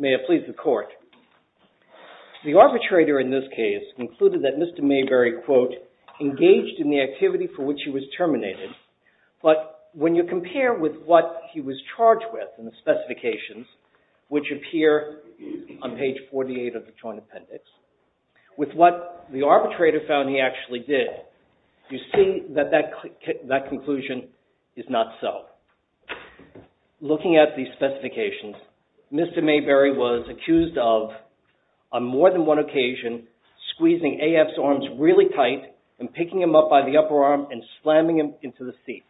May I please the court? The arbitrator in this case concluded that Mr. Mayberry, quote, engaged in the activity for which he was terminated. But when you compare with what he was charged with in the specifications, which appear on page 48 of the Joint Appendix, with what the arbitrator found he actually did, you see that that conclusion is not so. Looking at the specifications, Mr. Mayberry was accused of, on more than one occasion, squeezing AF's arms really tight and picking him up by the upper arm and slamming him into the seat.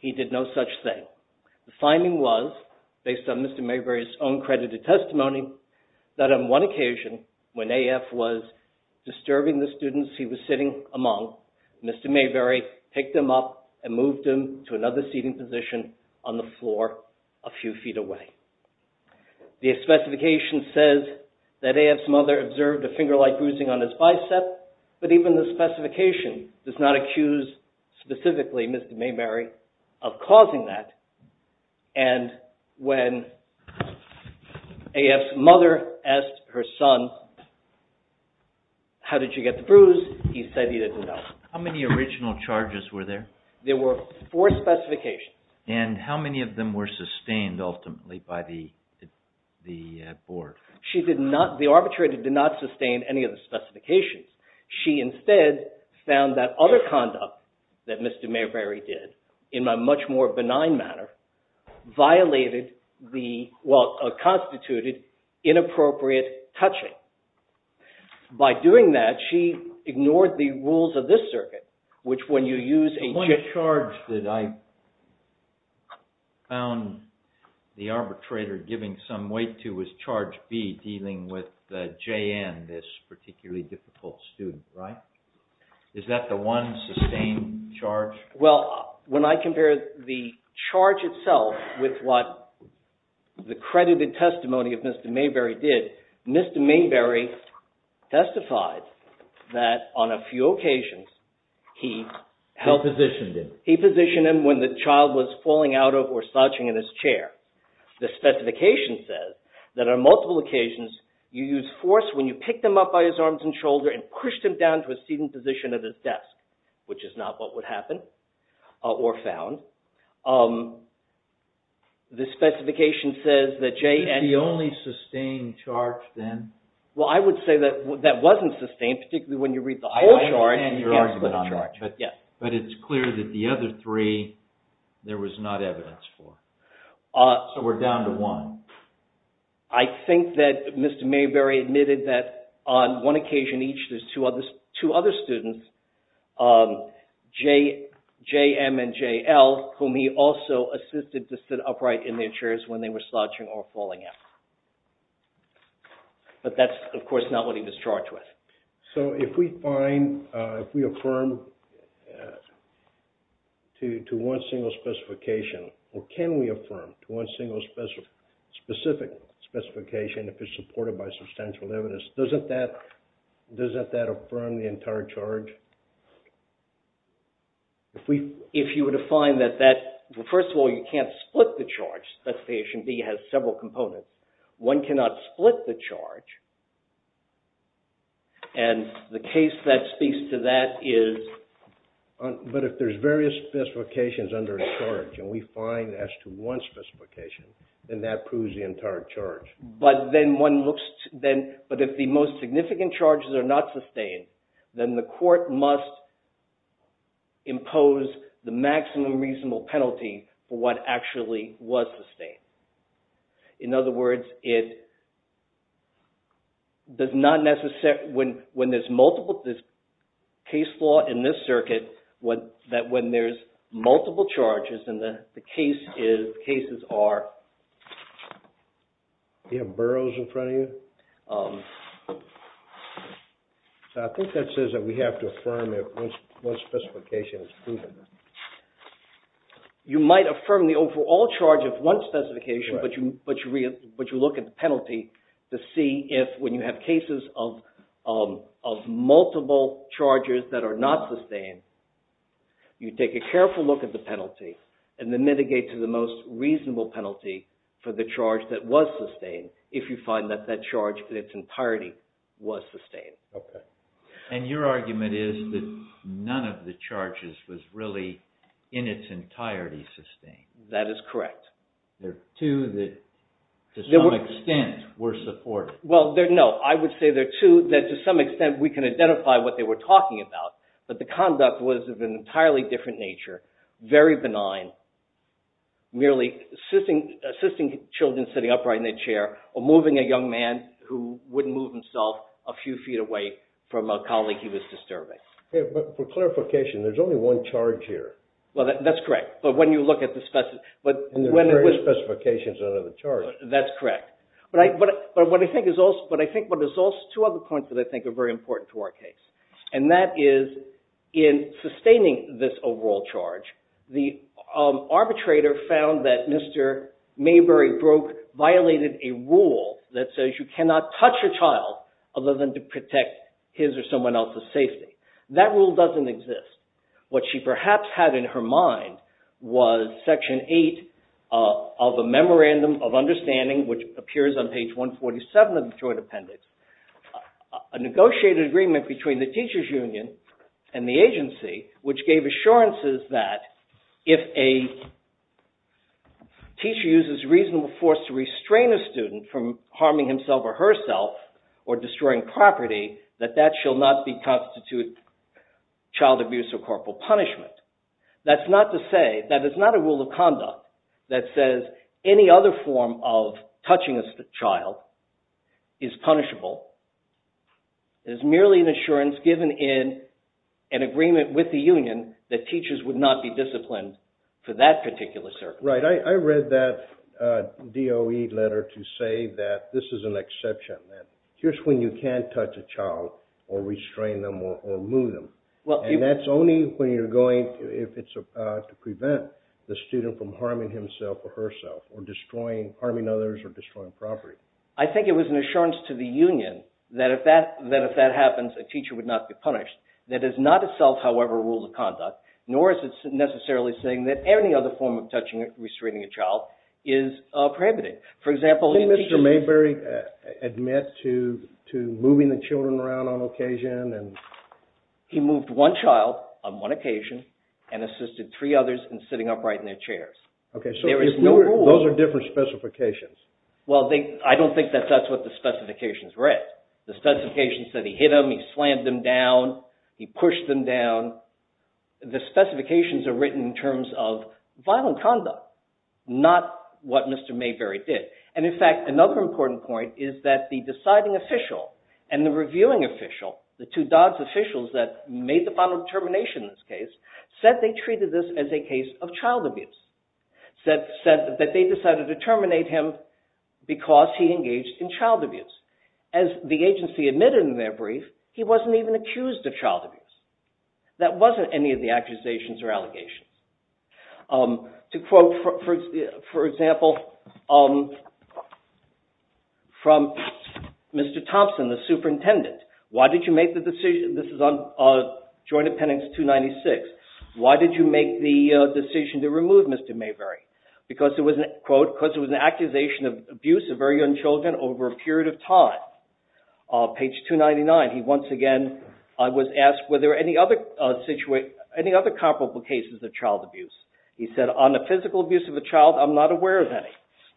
He did no such thing. The finding was, based on Mr. Mayberry's own credited testimony, that on one occasion, when AF was disturbing the students he was sitting among, Mr. Mayberry picked him up and moved him to another seating position on the floor a few feet away. The specification says that AF's mother observed a finger-like bruising on his bicep, but even the specification does not accuse specifically Mr. Mayberry of causing that. And when AF's mother asked her son, how did you get the bruise, he said he didn't know. How many original charges were there? There were four specifications. And how many of them were sustained ultimately by the board? She did not, the arbitrator did not sustain any of the specifications. She instead found that other conduct that Mr. Mayberry did, in a much more benign manner, violated the, well, constituted inappropriate touching. By doing that, she ignored the rules of this circuit, which when you use a... The only charge that I found the arbitrator giving some weight to was charge B, dealing with J.N., this particularly difficult student, right? Is that the one sustained charge? Well, when I compare the charge itself with what the credited testimony of Mr. Mayberry did, Mr. Mayberry testified that on a few occasions, he positioned him when the child was falling out of or slouching in his chair. The specification says that on multiple occasions, you used force when you picked him up by his arms and shoulders and pushed him down to a seated position at his desk, which is not what would happen or found. The specification says that J.N. Is that the only sustained charge then? Well, I would say that that wasn't sustained, particularly when you read the whole charge. I understand your argument on that, but it's clear that the other three, there was not evidence for. So we're down to one. I think that Mr. Mayberry admitted that on one occasion each, there's two other students, J.M. and J.L., whom he also assisted to sit upright in their chairs when they were slouching or falling out. But that's, of course, not what he was charged with. So if we find, if we affirm to one single specification, or can we affirm to one single specific specification if it's supported by substantial evidence, doesn't that affirm the entire charge? If you were to find that that, well, first of all, you can't split the charge. Specification B has several components. One cannot split the charge, and the case that speaks to that is... But if there's various specifications under a charge, and we find as to one specification, then that proves the entire charge. But then one looks, but if the most significant charges are not sustained, then the court must impose the maximum reasonable penalty for what actually was sustained. In other words, it does not necessarily, when there's multiple, this case law in this circuit, that when there's multiple charges, and the case is, cases are... Do you have boroughs in front of you? So I think that says that we have to affirm if one specification is proven. You might affirm the overall charge of one specification, but you look at the penalty to see if, when you have cases of multiple charges that are not sustained, you take a careful look at the penalty, and then mitigate to the most reasonable penalty for the charge that was sustained, if you find that that charge in its entirety was sustained. And your argument is that none of the charges was really in its entirety sustained. That is correct. There are two that, to some extent, were supported. Well, no, I would say there are two that to some extent we can identify what they were talking about, but the conduct was of an entirely different nature, very benign, merely assisting children sitting upright in their chair, or moving a young man who wouldn't move himself a few feet away from a colleague he was disturbing. But for clarification, there's only one charge here. Well, that's correct. But when you look at the... And there are various specifications under the charge. That's correct. But I think there's also two other points that I think are very important to our case, and that is, in sustaining this overall charge, the arbitrator found that Mr. Mayberry Broke violated a rule that says you cannot touch a child other than to protect his or someone else's safety. That rule doesn't exist. What she perhaps had in her mind was Section 8 of a Memorandum of Understanding, which appears on page 147 of the Detroit Appendix, a negotiated agreement between the teachers union and the agency, which gave assurances that if a teacher uses reasonable force to restrain a student from harming himself or herself, or destroying property, that that shall not constitute child abuse or corporal punishment. That's not to say, that is not a rule of conduct that says any other form of touching a child is punishable. It is merely an assurance given in an agreement with the union that teachers would not be disciplined for that particular circumstance. Right. I read that DOE letter to say that this is an exception, that here's when you can't touch a child or restrain them or move them. And that's only when you're going, if it's to prevent the student from harming himself or herself or destroying, harming others or destroying property. I think it was an assurance to the union that if that happens, a teacher would not be punished. That is not itself, however, a rule of conduct, nor is it necessarily saying that any other form of touching or restraining a child is prohibitive. For example... Can Mr. Mayberry admit to moving the children around on occasion and... He moved one child on one occasion and assisted three others in sitting upright in their chairs. Okay, so those are different specifications. Well, I don't think that that's what the specifications read. The specifications said he hit them, he slammed them down, he pushed them down. The specifications are written in terms of violent conduct, not what Mr. Mayberry did. And in fact, another important point is that the deciding official and the reviewing official, the two DODS officials that made the final determination in this case, said they treated this as a case of child abuse. Said that they decided to terminate him because he engaged in child abuse. As the agency admitted in their brief, he wasn't even accused of child abuse. That wasn't any of the accusations or allegations. To quote, for example, from Mr. Thompson, the superintendent, this is on Joint Appendix 296, why did you make the decision to remove Mr. Mayberry? Because it was an accusation of abuse of very young children over a period of time. Page 299, he once again was asked were there any other comparable cases of child abuse. He said, on the physical abuse of a child, I'm not aware of any.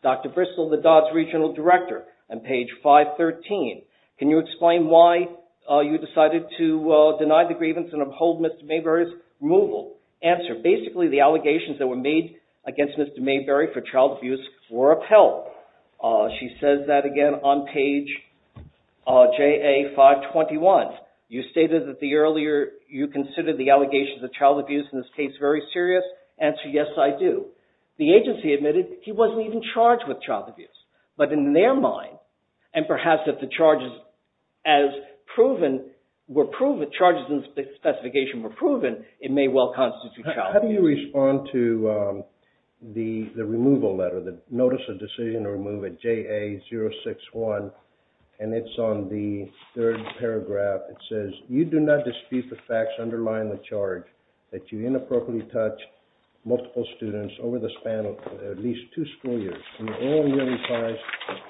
Dr. Bristol, the DODS regional director, on page 513, can you explain why you decided to deny the grievance and uphold Mr. Mayberry's removal? Answer, basically the allegations that were made against Mr. Mayberry for child abuse were upheld. She says that again on page JA 521. You stated that you considered the allegations of child abuse in this case very serious. Answer, yes, I do. The agency admitted he wasn't even charged with child abuse. But in their mind, and perhaps if the charges were proven, the charges and the specification were proven, it may well constitute child abuse. How do you respond to the removal letter, the Notice of Decision to Remove at JA 061? And it's on the third paragraph. It says, you do not dispute the facts underlying the charge that you inappropriately touched multiple students over the span of at least two school years and are only willing to charge,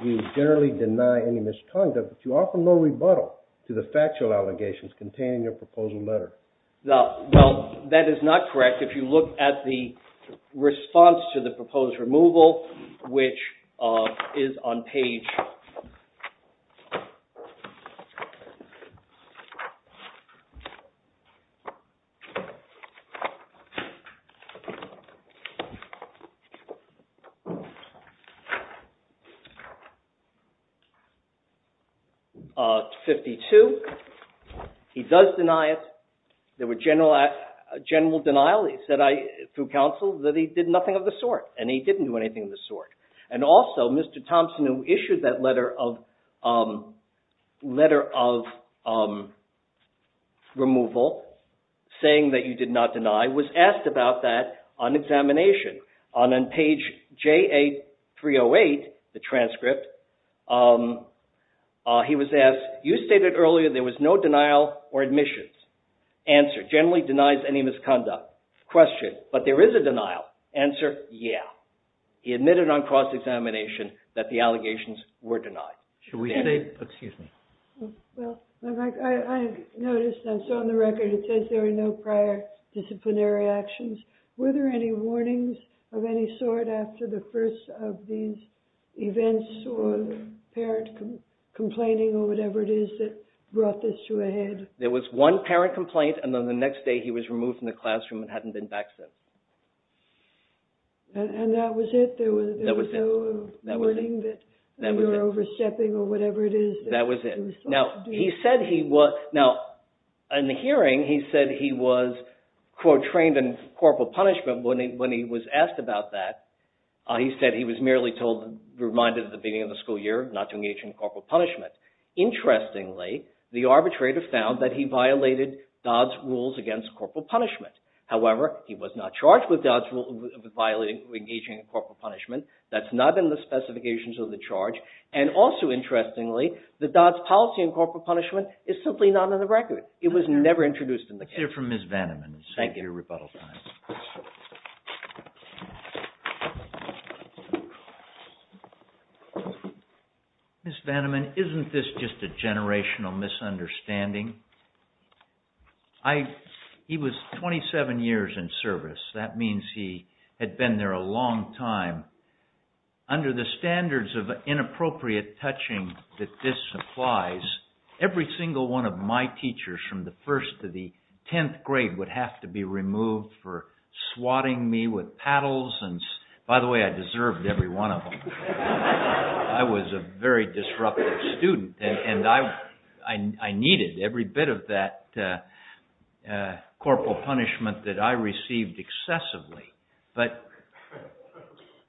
you generally deny any misconduct, but you offer no rebuttal to the factual allegations contained in your proposal letter. Well, that is not correct. In fact, if you look at the response to the proposed removal, which is on page 52, he does deny it. There were general denials through counsel that he did nothing of the sort, and he didn't do anything of the sort. And also, Mr. Thompson, who issued that letter of removal, saying that you did not deny, was asked about that on examination. On page JA 308, the transcript, he was asked, you stated earlier there was no denial or admissions. Answer, generally denies any misconduct. Question, but there is a denial. Answer, yeah. He admitted on cross-examination that the allegations were denied. Should we say, excuse me. Well, I noticed that's on the record. It says there were no prior disciplinary actions. Were there any warnings of any sort after the first of these events or parent complaining or whatever it is that brought this to a head? There was one parent complaint, and then the next day he was removed from the classroom and hadn't been back since. And that was it? There was no warning that you were overstepping or whatever it is? That was it. Now, in the hearing, he said he was, quote, trained in corporal punishment when he was asked about that. He said he was merely reminded at the beginning of the school year not to engage in corporal punishment. Interestingly, the arbitrator found that he violated Dodd's rules against corporal punishment. However, he was not charged with Dodd's rule of engaging in corporal punishment. That's not in the specifications of the charge. And also, interestingly, the Dodd's policy in corporal punishment is simply not on the record. It was never introduced in the case. Let's hear from Ms. Vanneman. Thank you. Ms. Vanneman, isn't this just a generational misunderstanding? He was 27 years in service. That means he had been there a long time. Under the standards of inappropriate touching that this applies, every single one of my teachers from the 1st to the 10th grade would have to be removed for swatting me with paddles. By the way, I deserved every one of them. I was a very disruptive student, and I needed every bit of that corporal punishment that I received excessively. But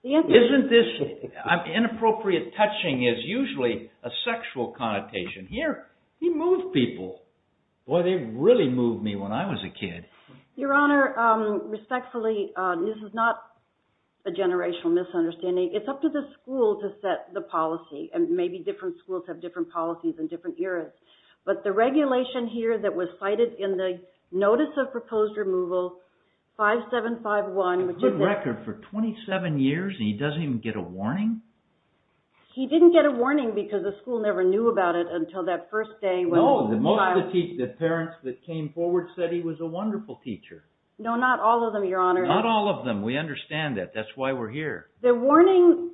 isn't this inappropriate touching is usually a sexual connotation. Here, he moved people. Boy, they really moved me when I was a kid. Your Honor, respectfully, this is not a generational misunderstanding. It's up to the school to set the policy, and maybe different schools have different policies in different eras. But the regulation here that was cited in the Notice of Proposed Removal 5751, which is... A good record for 27 years, and he doesn't even get a warning? He didn't get a warning because the school never knew about it until that first day when... No, the parents that came forward said he was a wonderful teacher. No, not all of them, Your Honor. Not all of them. We understand that. That's why we're here. The warning...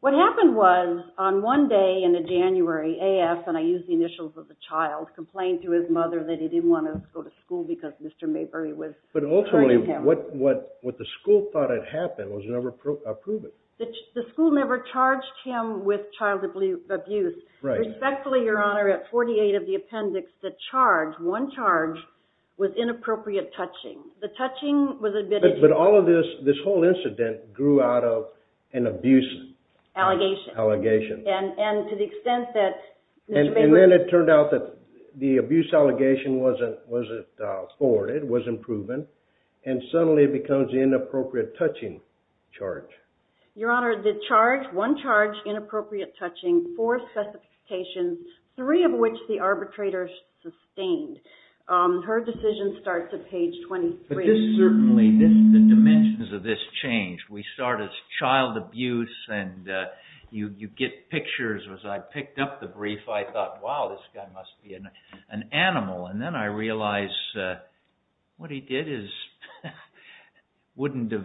What happened was, on one day in January, AF, and I use the initials of the child, complained to his mother that he didn't want to go to school because Mr. Mayberry was hurting him. But ultimately, what the school thought had happened was never proven. The school never charged him with child abuse. Respectfully, Your Honor, at 48 of the appendix, the charge, one charge, was inappropriate touching. The touching was admitted... But all of this, this whole incident, grew out of an abuse... Allegation. Allegation. And to the extent that Mr. Mayberry... And suddenly it becomes inappropriate touching charge. Your Honor, the charge, one charge, inappropriate touching, four specifications, three of which the arbitrator sustained. Her decision starts at page 23. But this certainly, the dimensions of this change. We start as child abuse, and you get pictures. As I picked up the brief, I thought, wow, this guy must be an animal. And then I realized what he did wouldn't have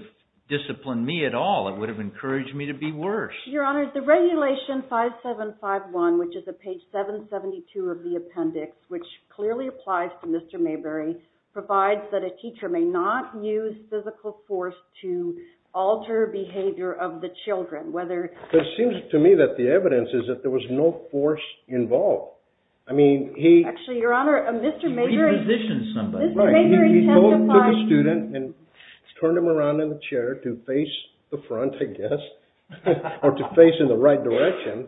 disciplined me at all. It would have encouraged me to be worse. Your Honor, the regulation 5751, which is at page 772 of the appendix, which clearly applies to Mr. Mayberry, provides that a teacher may not use physical force to alter behavior of the children, whether... It seems to me that the evidence is that there was no force involved. I mean, he... Actually, Your Honor, Mr. Mayberry... He repositioned somebody. Mr. Mayberry testified... He took a student and turned him around in a chair to face the front, I guess, or to face in the right direction.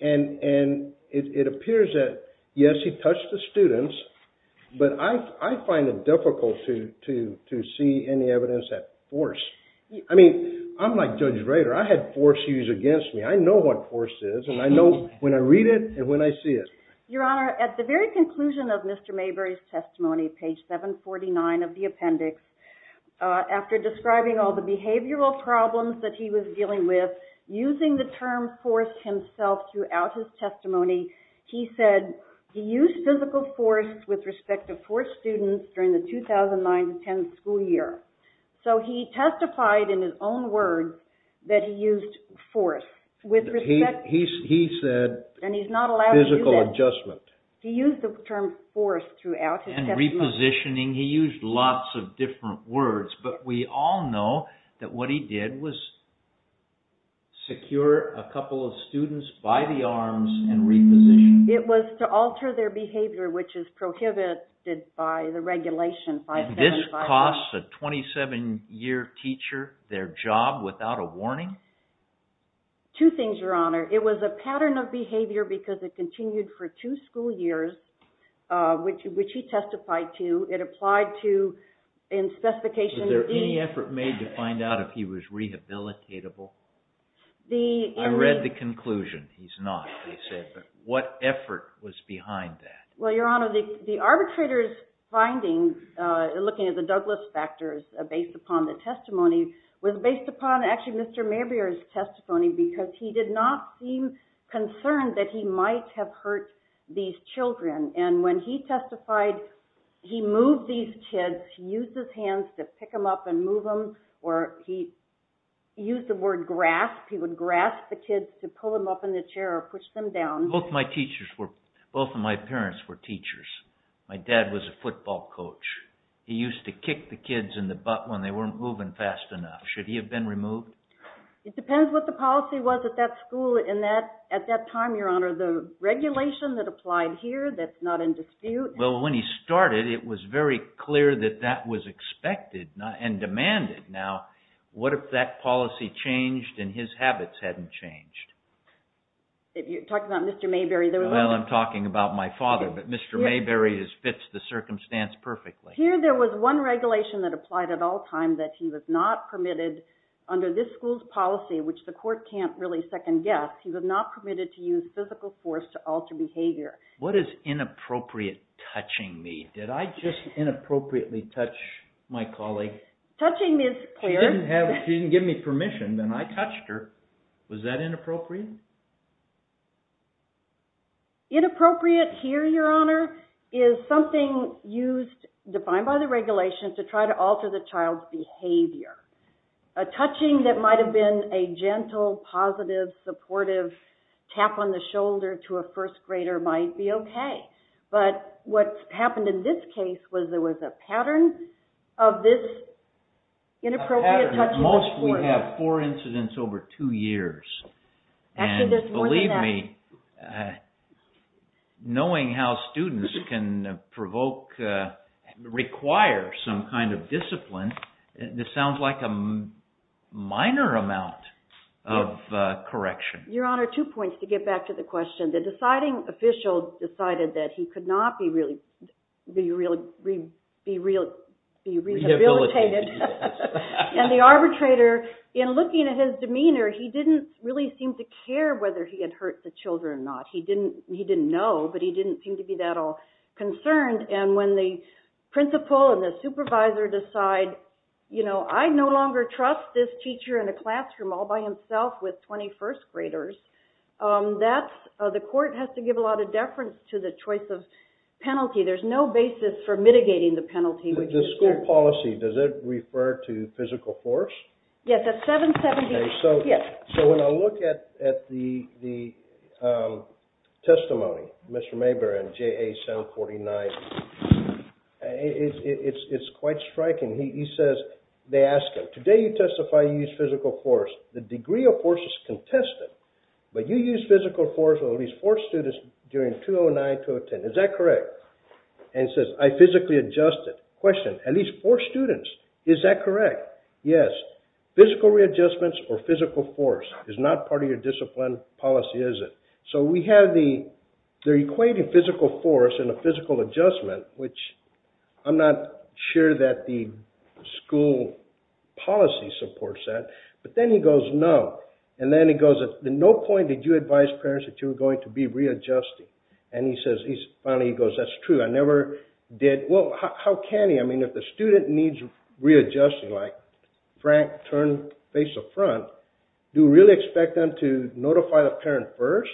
And it appears that, yes, he touched the students, but I find it difficult to see any evidence at force. I mean, I'm like Judge Rader. I had force used against me. I know what force is, and I know when I read it and when I see it. Your Honor, at the very conclusion of Mr. Mayberry's testimony, page 749 of the appendix, after describing all the behavioral problems that he was dealing with, using the term force himself throughout his testimony, he said he used physical force with respect to four students during the 2009-10 school year. So he testified in his own words that he used force. He said physical adjustment. He used the term force throughout his testimony. And repositioning. He used lots of different words, but we all know that what he did was secure a couple of students by the arms and repositioned them. It was to alter their behavior, which is prohibited by the regulation 575. It costs a 27-year teacher their job without a warning? Two things, Your Honor. It was a pattern of behavior because it continued for two school years, which he testified to. It applied to, in specification D. Was there any effort made to find out if he was rehabilitatable? I read the conclusion. He's not, they said. But what effort was behind that? Well, Your Honor, the arbitrator's findings, looking at the Douglas factors based upon the testimony, was based upon actually Mr. Mabrier's testimony because he did not seem concerned that he might have hurt these children. And when he testified, he moved these kids, he used his hands to pick them up and move them, or he used the word grasp. He would grasp the kids to pull them up in the chair or push them down. Both of my parents were teachers. My dad was a football coach. He used to kick the kids in the butt when they weren't moving fast enough. Should he have been removed? It depends what the policy was at that school at that time, Your Honor. The regulation that applied here, that's not in dispute. Well, when he started, it was very clear that that was expected and demanded. Now, what if that policy changed and his habits hadn't changed? You're talking about Mr. Mabrier. Well, I'm talking about my father, but Mr. Mabrier fits the circumstance perfectly. Here there was one regulation that applied at all times that he was not permitted under this school's policy, which the court can't really second guess, he was not permitted to use physical force to alter behavior. What is inappropriate touching me? Did I just inappropriately touch my colleague? Touching is clear. She didn't give me permission, then I touched her. Was that inappropriate? Inappropriate here, Your Honor, is something used, defined by the regulation, to try to alter the child's behavior. A touching that might have been a gentle, positive, supportive tap on the shoulder to a first grader might be okay. But what happened in this case was there was a pattern of this inappropriate touching. At most we have four incidents over two years. And believe me, knowing how students can provoke, require some kind of discipline, this sounds like a minor amount of correction. Your Honor, two points to get back to the question. The deciding official decided that he could not be rehabilitated. And the arbitrator, in looking at his demeanor, he didn't really seem to care whether he had hurt the children or not. He didn't know, but he didn't seem to be that all concerned. And when the principal and the supervisor decide, I no longer trust this teacher in a classroom all by himself with 21st graders, the court has to give a lot of deference to the choice of penalty. There's no basis for mitigating the penalty. The school policy, does it refer to physical force? Yes, at 770. So when I look at the testimony, Mr. Mabern, JA 749, it's quite striking. He says, they ask him, today you testify you used physical force. The degree of force is contested, but you used physical force on at least four students during 2009-2010. Is that correct? And he says, I physically adjusted. Question, at least four students. Is that correct? Yes. Physical readjustments or physical force is not part of your discipline policy, is it? So we have the equation of physical force and the physical adjustment, which I'm not sure that the school policy supports that. But then he goes, no. And then he goes, at no point did you advise parents that you were going to be readjusting. And finally he goes, that's true. I never did. Well, how can he? I mean, if the student needs readjusting, like Frank turned face up front, do you really expect them to notify the parent first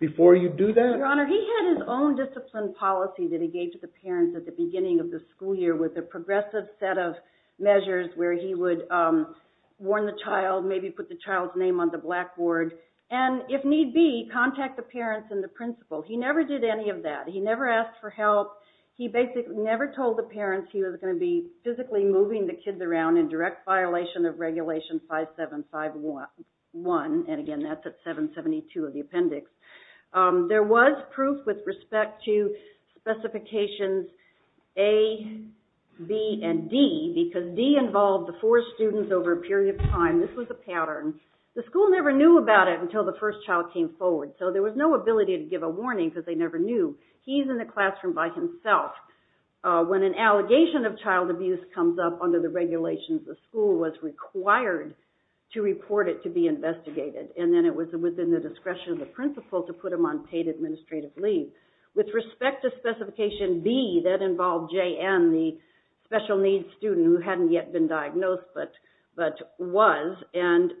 before you do that? Your Honor, he had his own discipline policy that he gave to the parents at the beginning of the school year with a progressive set of measures where he would warn the child, maybe put the child's name on the blackboard, and if need be, contact the parents and the principal. He never did any of that. He never asked for help. He basically never told the parents he was going to be physically moving the kids around in direct violation of Regulation 5751. And, again, that's at 772 of the appendix. There was proof with respect to specifications A, B, and D, because D involved the four students over a period of time. This was a pattern. The school never knew about it until the first child came forward, so there was no ability to give a warning because they never knew. He's in the classroom by himself. When an allegation of child abuse comes up under the regulations, the school was required to report it to be investigated, and then it was within the discretion of the principal to put him on paid administrative leave. With respect to specification B, that involved J.N., the special needs student who hadn't yet been diagnosed but was, and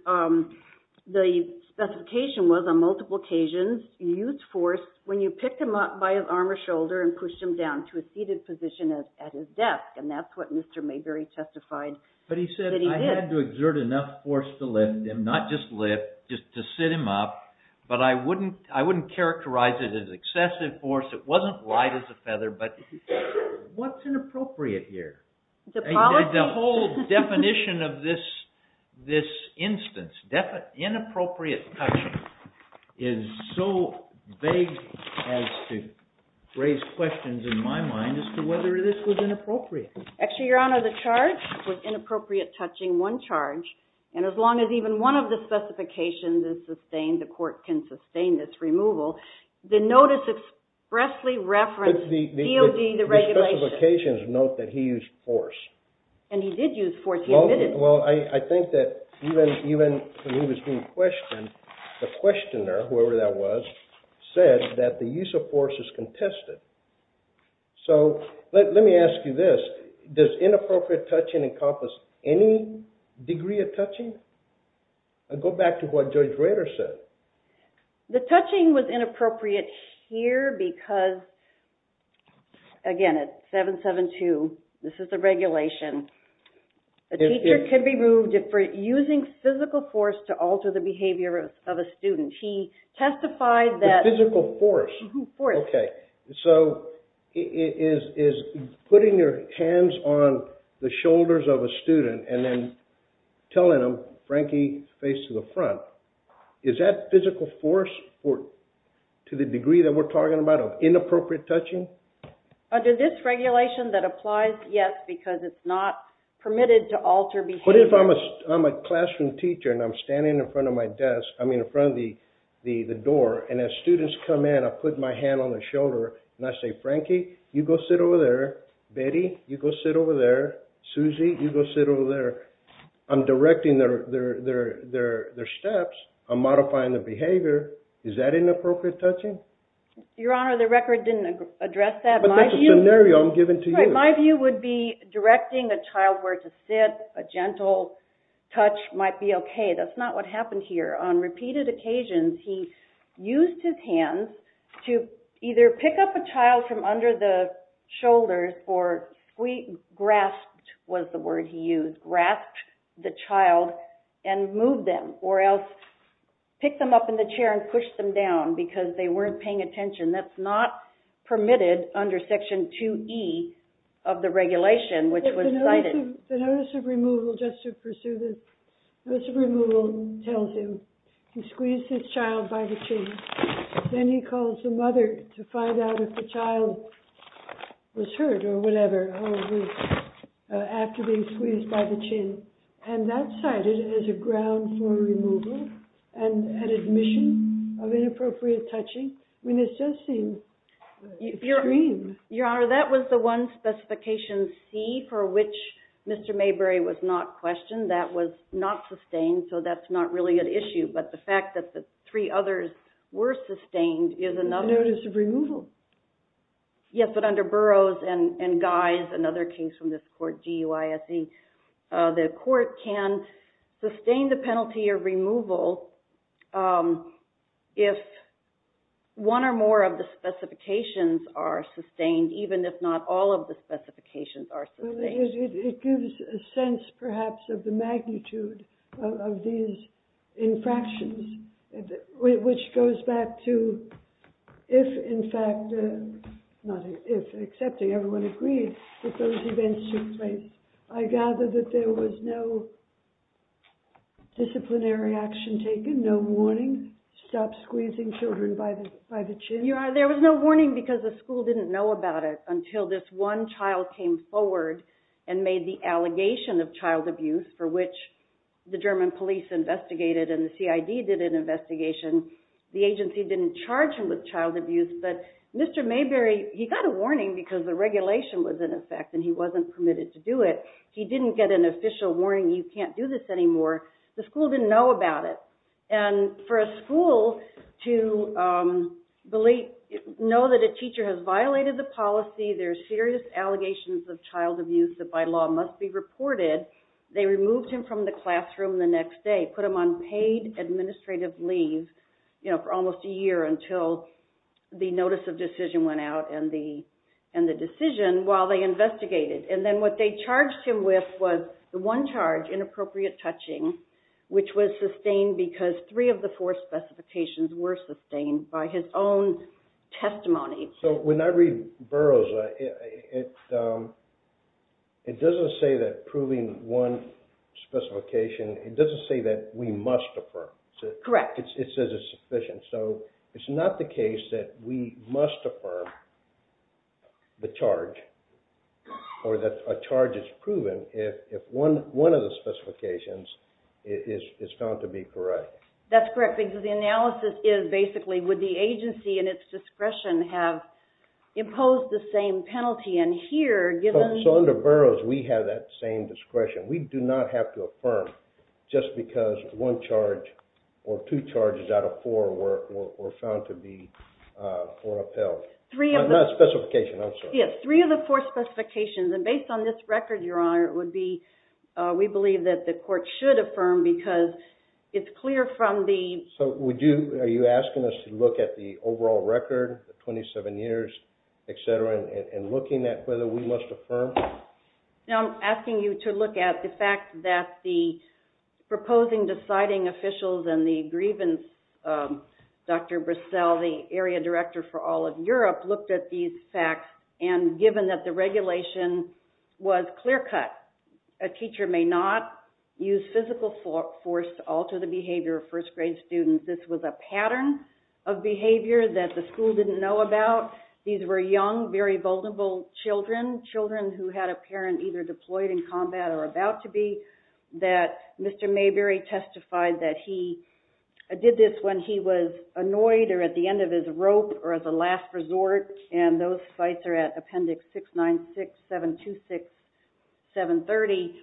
the specification was on multiple occasions, you used force when you picked him up by his arm or shoulder and pushed him down to a seated position at his desk, and that's what Mr. Mayberry testified that he did. But he said, I had to exert enough force to lift him, not just lift, just to sit him up, but I wouldn't characterize it as excessive force. It wasn't light as a feather, but what's inappropriate here? The whole definition of this instance, inappropriate touching, is so vague as to raise questions in my mind as to whether this was inappropriate. Actually, Your Honor, the charge was inappropriate touching, one charge, and as long as even one of the specifications is sustained, the court can sustain this removal. The notice expressly referenced DOD, the regulations. On multiple occasions, note that he used force. And he did use force. Well, I think that even when he was being questioned, the questioner, whoever that was, said that the use of force is contested. So let me ask you this. Does inappropriate touching encompass any degree of touching? Go back to what Judge Rader said. The touching was inappropriate here because, again, it's 772. This is the regulation. A teacher can be removed for using physical force to alter the behavior of a student. He testified that… Physical force? Force. Okay. So is putting your hands on the shoulders of a student and then telling them, Frankie, face to the front, is that physical force to the degree that we're talking about of inappropriate touching? Under this regulation, that applies, yes, because it's not permitted to alter behavior. But if I'm a classroom teacher and I'm standing in front of my desk, I mean in front of the door, and as students come in, I put my hand on their shoulder and I say, Frankie, you go sit over there. Betty, you go sit over there. Susie, you go sit over there. I'm directing their steps. I'm modifying their behavior. Is that inappropriate touching? Your Honor, the record didn't address that. But that's a scenario I'm giving to you. My view would be directing a child where to sit, a gentle touch might be okay. That's not what happened here. On repeated occasions, he used his hands to either pick up a child from under the shoulders or grasped, was the word he used, grasped the child and moved them, or else picked them up in the chair and pushed them down because they weren't paying attention. That's not permitted under Section 2E of the regulation which was cited. The notice of removal, just to pursue this, notice of removal tells him he squeezed his child by the chin. Then he calls the mother to find out if the child was hurt or whatever after being squeezed by the chin. And that's cited as a ground for removal and an admission of inappropriate touching. I mean, it does seem extreme. Your Honor, that was the one specification, C, for which Mr. Mayberry was not questioned. That was not sustained, so that's not really an issue. But the fact that the three others were sustained is another. Notice of removal. Yes, but under Burroughs and Guise, another case from this court, G-U-I-S-E, the court can sustain the penalty of removal if one or more of the specifications are sustained, even if not all of the specifications are sustained. It gives a sense, perhaps, of the magnitude of these infractions, which goes back to if, in fact, not if, except everyone agreed that those events took place. I gather that there was no disciplinary action taken, no warning, stop squeezing children by the chin? Your Honor, there was no warning because the school didn't know about it until this one child came forward and made the allegation of child abuse for which the German police investigated and the CID did an investigation. The agency didn't charge him with child abuse, but Mr. Mayberry, he got a warning because the regulation was in effect and he wasn't permitted to do it. He didn't get an official warning, you can't do this anymore. The school didn't know about it. And for a school to know that a teacher has violated the policy, there are serious allegations of child abuse that by law must be reported, they removed him from the classroom the next day, put him on paid administrative leave for almost a year until the notice of decision went out and the decision while they investigated. And then what they charged him with was the one charge, inappropriate touching, which was sustained because three of the four specifications were sustained by his own testimony. So when I read Burroughs, it doesn't say that proving one specification, it doesn't say that we must affirm. Correct. It says it's sufficient. So it's not the case that we must affirm the charge or that a charge is proven if one of the specifications is found to be correct. That's correct because the analysis is basically would the agency in its discretion have imposed the same penalty in here given... So under Burroughs, we have that same discretion. We do not have to affirm just because one charge or two charges out of four were found to be or upheld. Three of the... Not specification, I'm sorry. Yes, three of the four specifications. And based on this record, Your Honor, it would be we believe that the court should affirm because it's clear from the... So are you asking us to look at the overall record, the 27 years, et cetera, and looking at whether we must affirm? No, I'm asking you to look at the fact that the proposing deciding officials and the grievance, Dr. Brassell, the area director for all of Europe, looked at these facts and given that the regulation was clear-cut, a teacher may not use physical force to alter the behavior of first-grade students. This was a pattern of behavior that the school didn't know about. These were young, very vulnerable children, children who had a parent either deployed in combat or about to be, that Mr. Mayberry testified that he did this when he was annoyed or at the end of his rope or at the last resort, and those sites are at Appendix 696-726-730.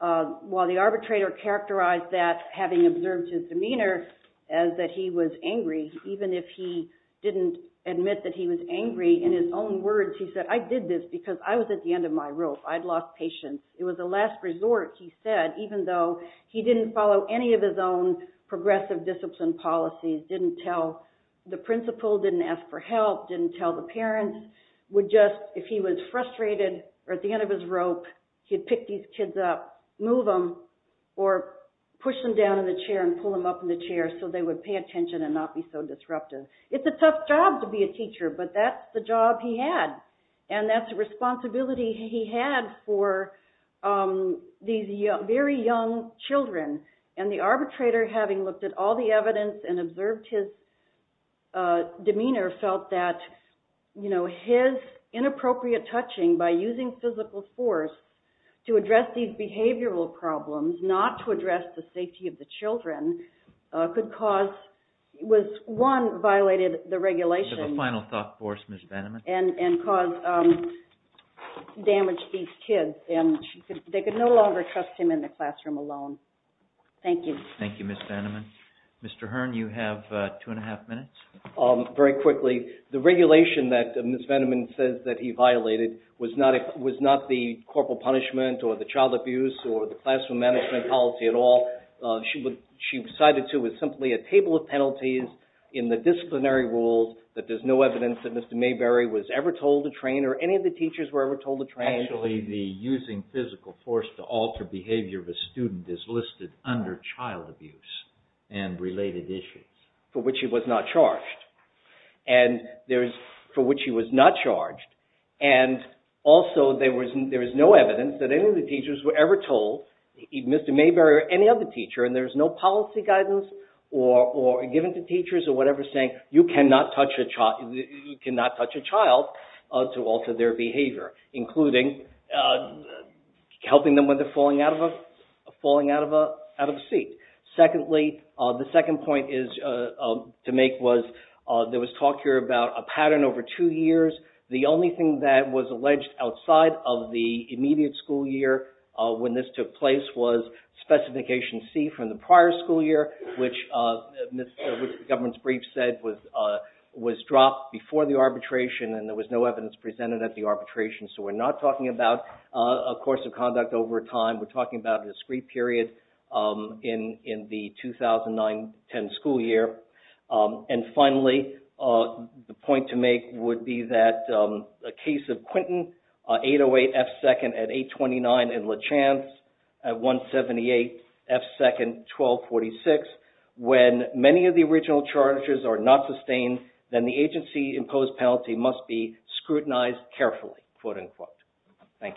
While the arbitrator characterized that, having observed his demeanor, as that he was angry, even if he didn't admit that he was angry, in his own words he said, I did this because I was at the end of my rope. I'd lost patience. It was a last resort, he said, even though he didn't follow any of his own progressive discipline policies, didn't tell the principal, didn't ask for help, didn't tell the parents, would just, if he was frustrated or at the end of his rope, he'd pick these kids up, move them, or push them down in the chair and pull them up in the chair so they would pay attention and not be so disruptive. It's a tough job to be a teacher, but that's the job he had, and that's the responsibility he had for these very young children. And the arbitrator, having looked at all the evidence and observed his demeanor, felt that his inappropriate touching by using physical force to address these behavioral problems, not to address the safety of the children, could cause, one, violated the regulations of a final thought force, Ms. Benham. And caused damage to these kids, and they could no longer trust him in the classroom alone. Thank you. Thank you, Ms. Benham. Mr. Hearn, you have two and a half minutes. Very quickly, the regulation that Ms. Benham says that he violated was not the corporal punishment or the child abuse or the classroom management policy at all. She decided it was simply a table of penalties in the disciplinary rules that there's no evidence that Mr. Mayberry was ever told to train or any of the teachers were ever told to train. Actually, the using physical force to alter behavior of a student is listed under child abuse and related issues. For which he was not charged. And there's, for which he was not charged, and also there is no evidence that any of the teachers were ever told, Mr. Mayberry or any other teacher, and there's no policy guidance or given to teachers or whatever saying you cannot touch a child to alter their behavior. Including helping them when they're falling out of a seat. Secondly, the second point to make was there was talk here about a pattern over two years. The only thing that was alleged outside of the immediate school year when this took place was specification C from the prior school year which the government's brief said was dropped before the arbitration and there was no evidence presented at the arbitration. So we're not talking about a course of conduct over time. We're talking about a discrete period in the 2009-10 school year. And finally, the point to make would be that a case of Quinton, 808 F2nd at 829 and LeChance at 178 F2nd 1246. When many of the original charges are not sustained, then the agency-imposed penalty must be scrutinized carefully. Thank you.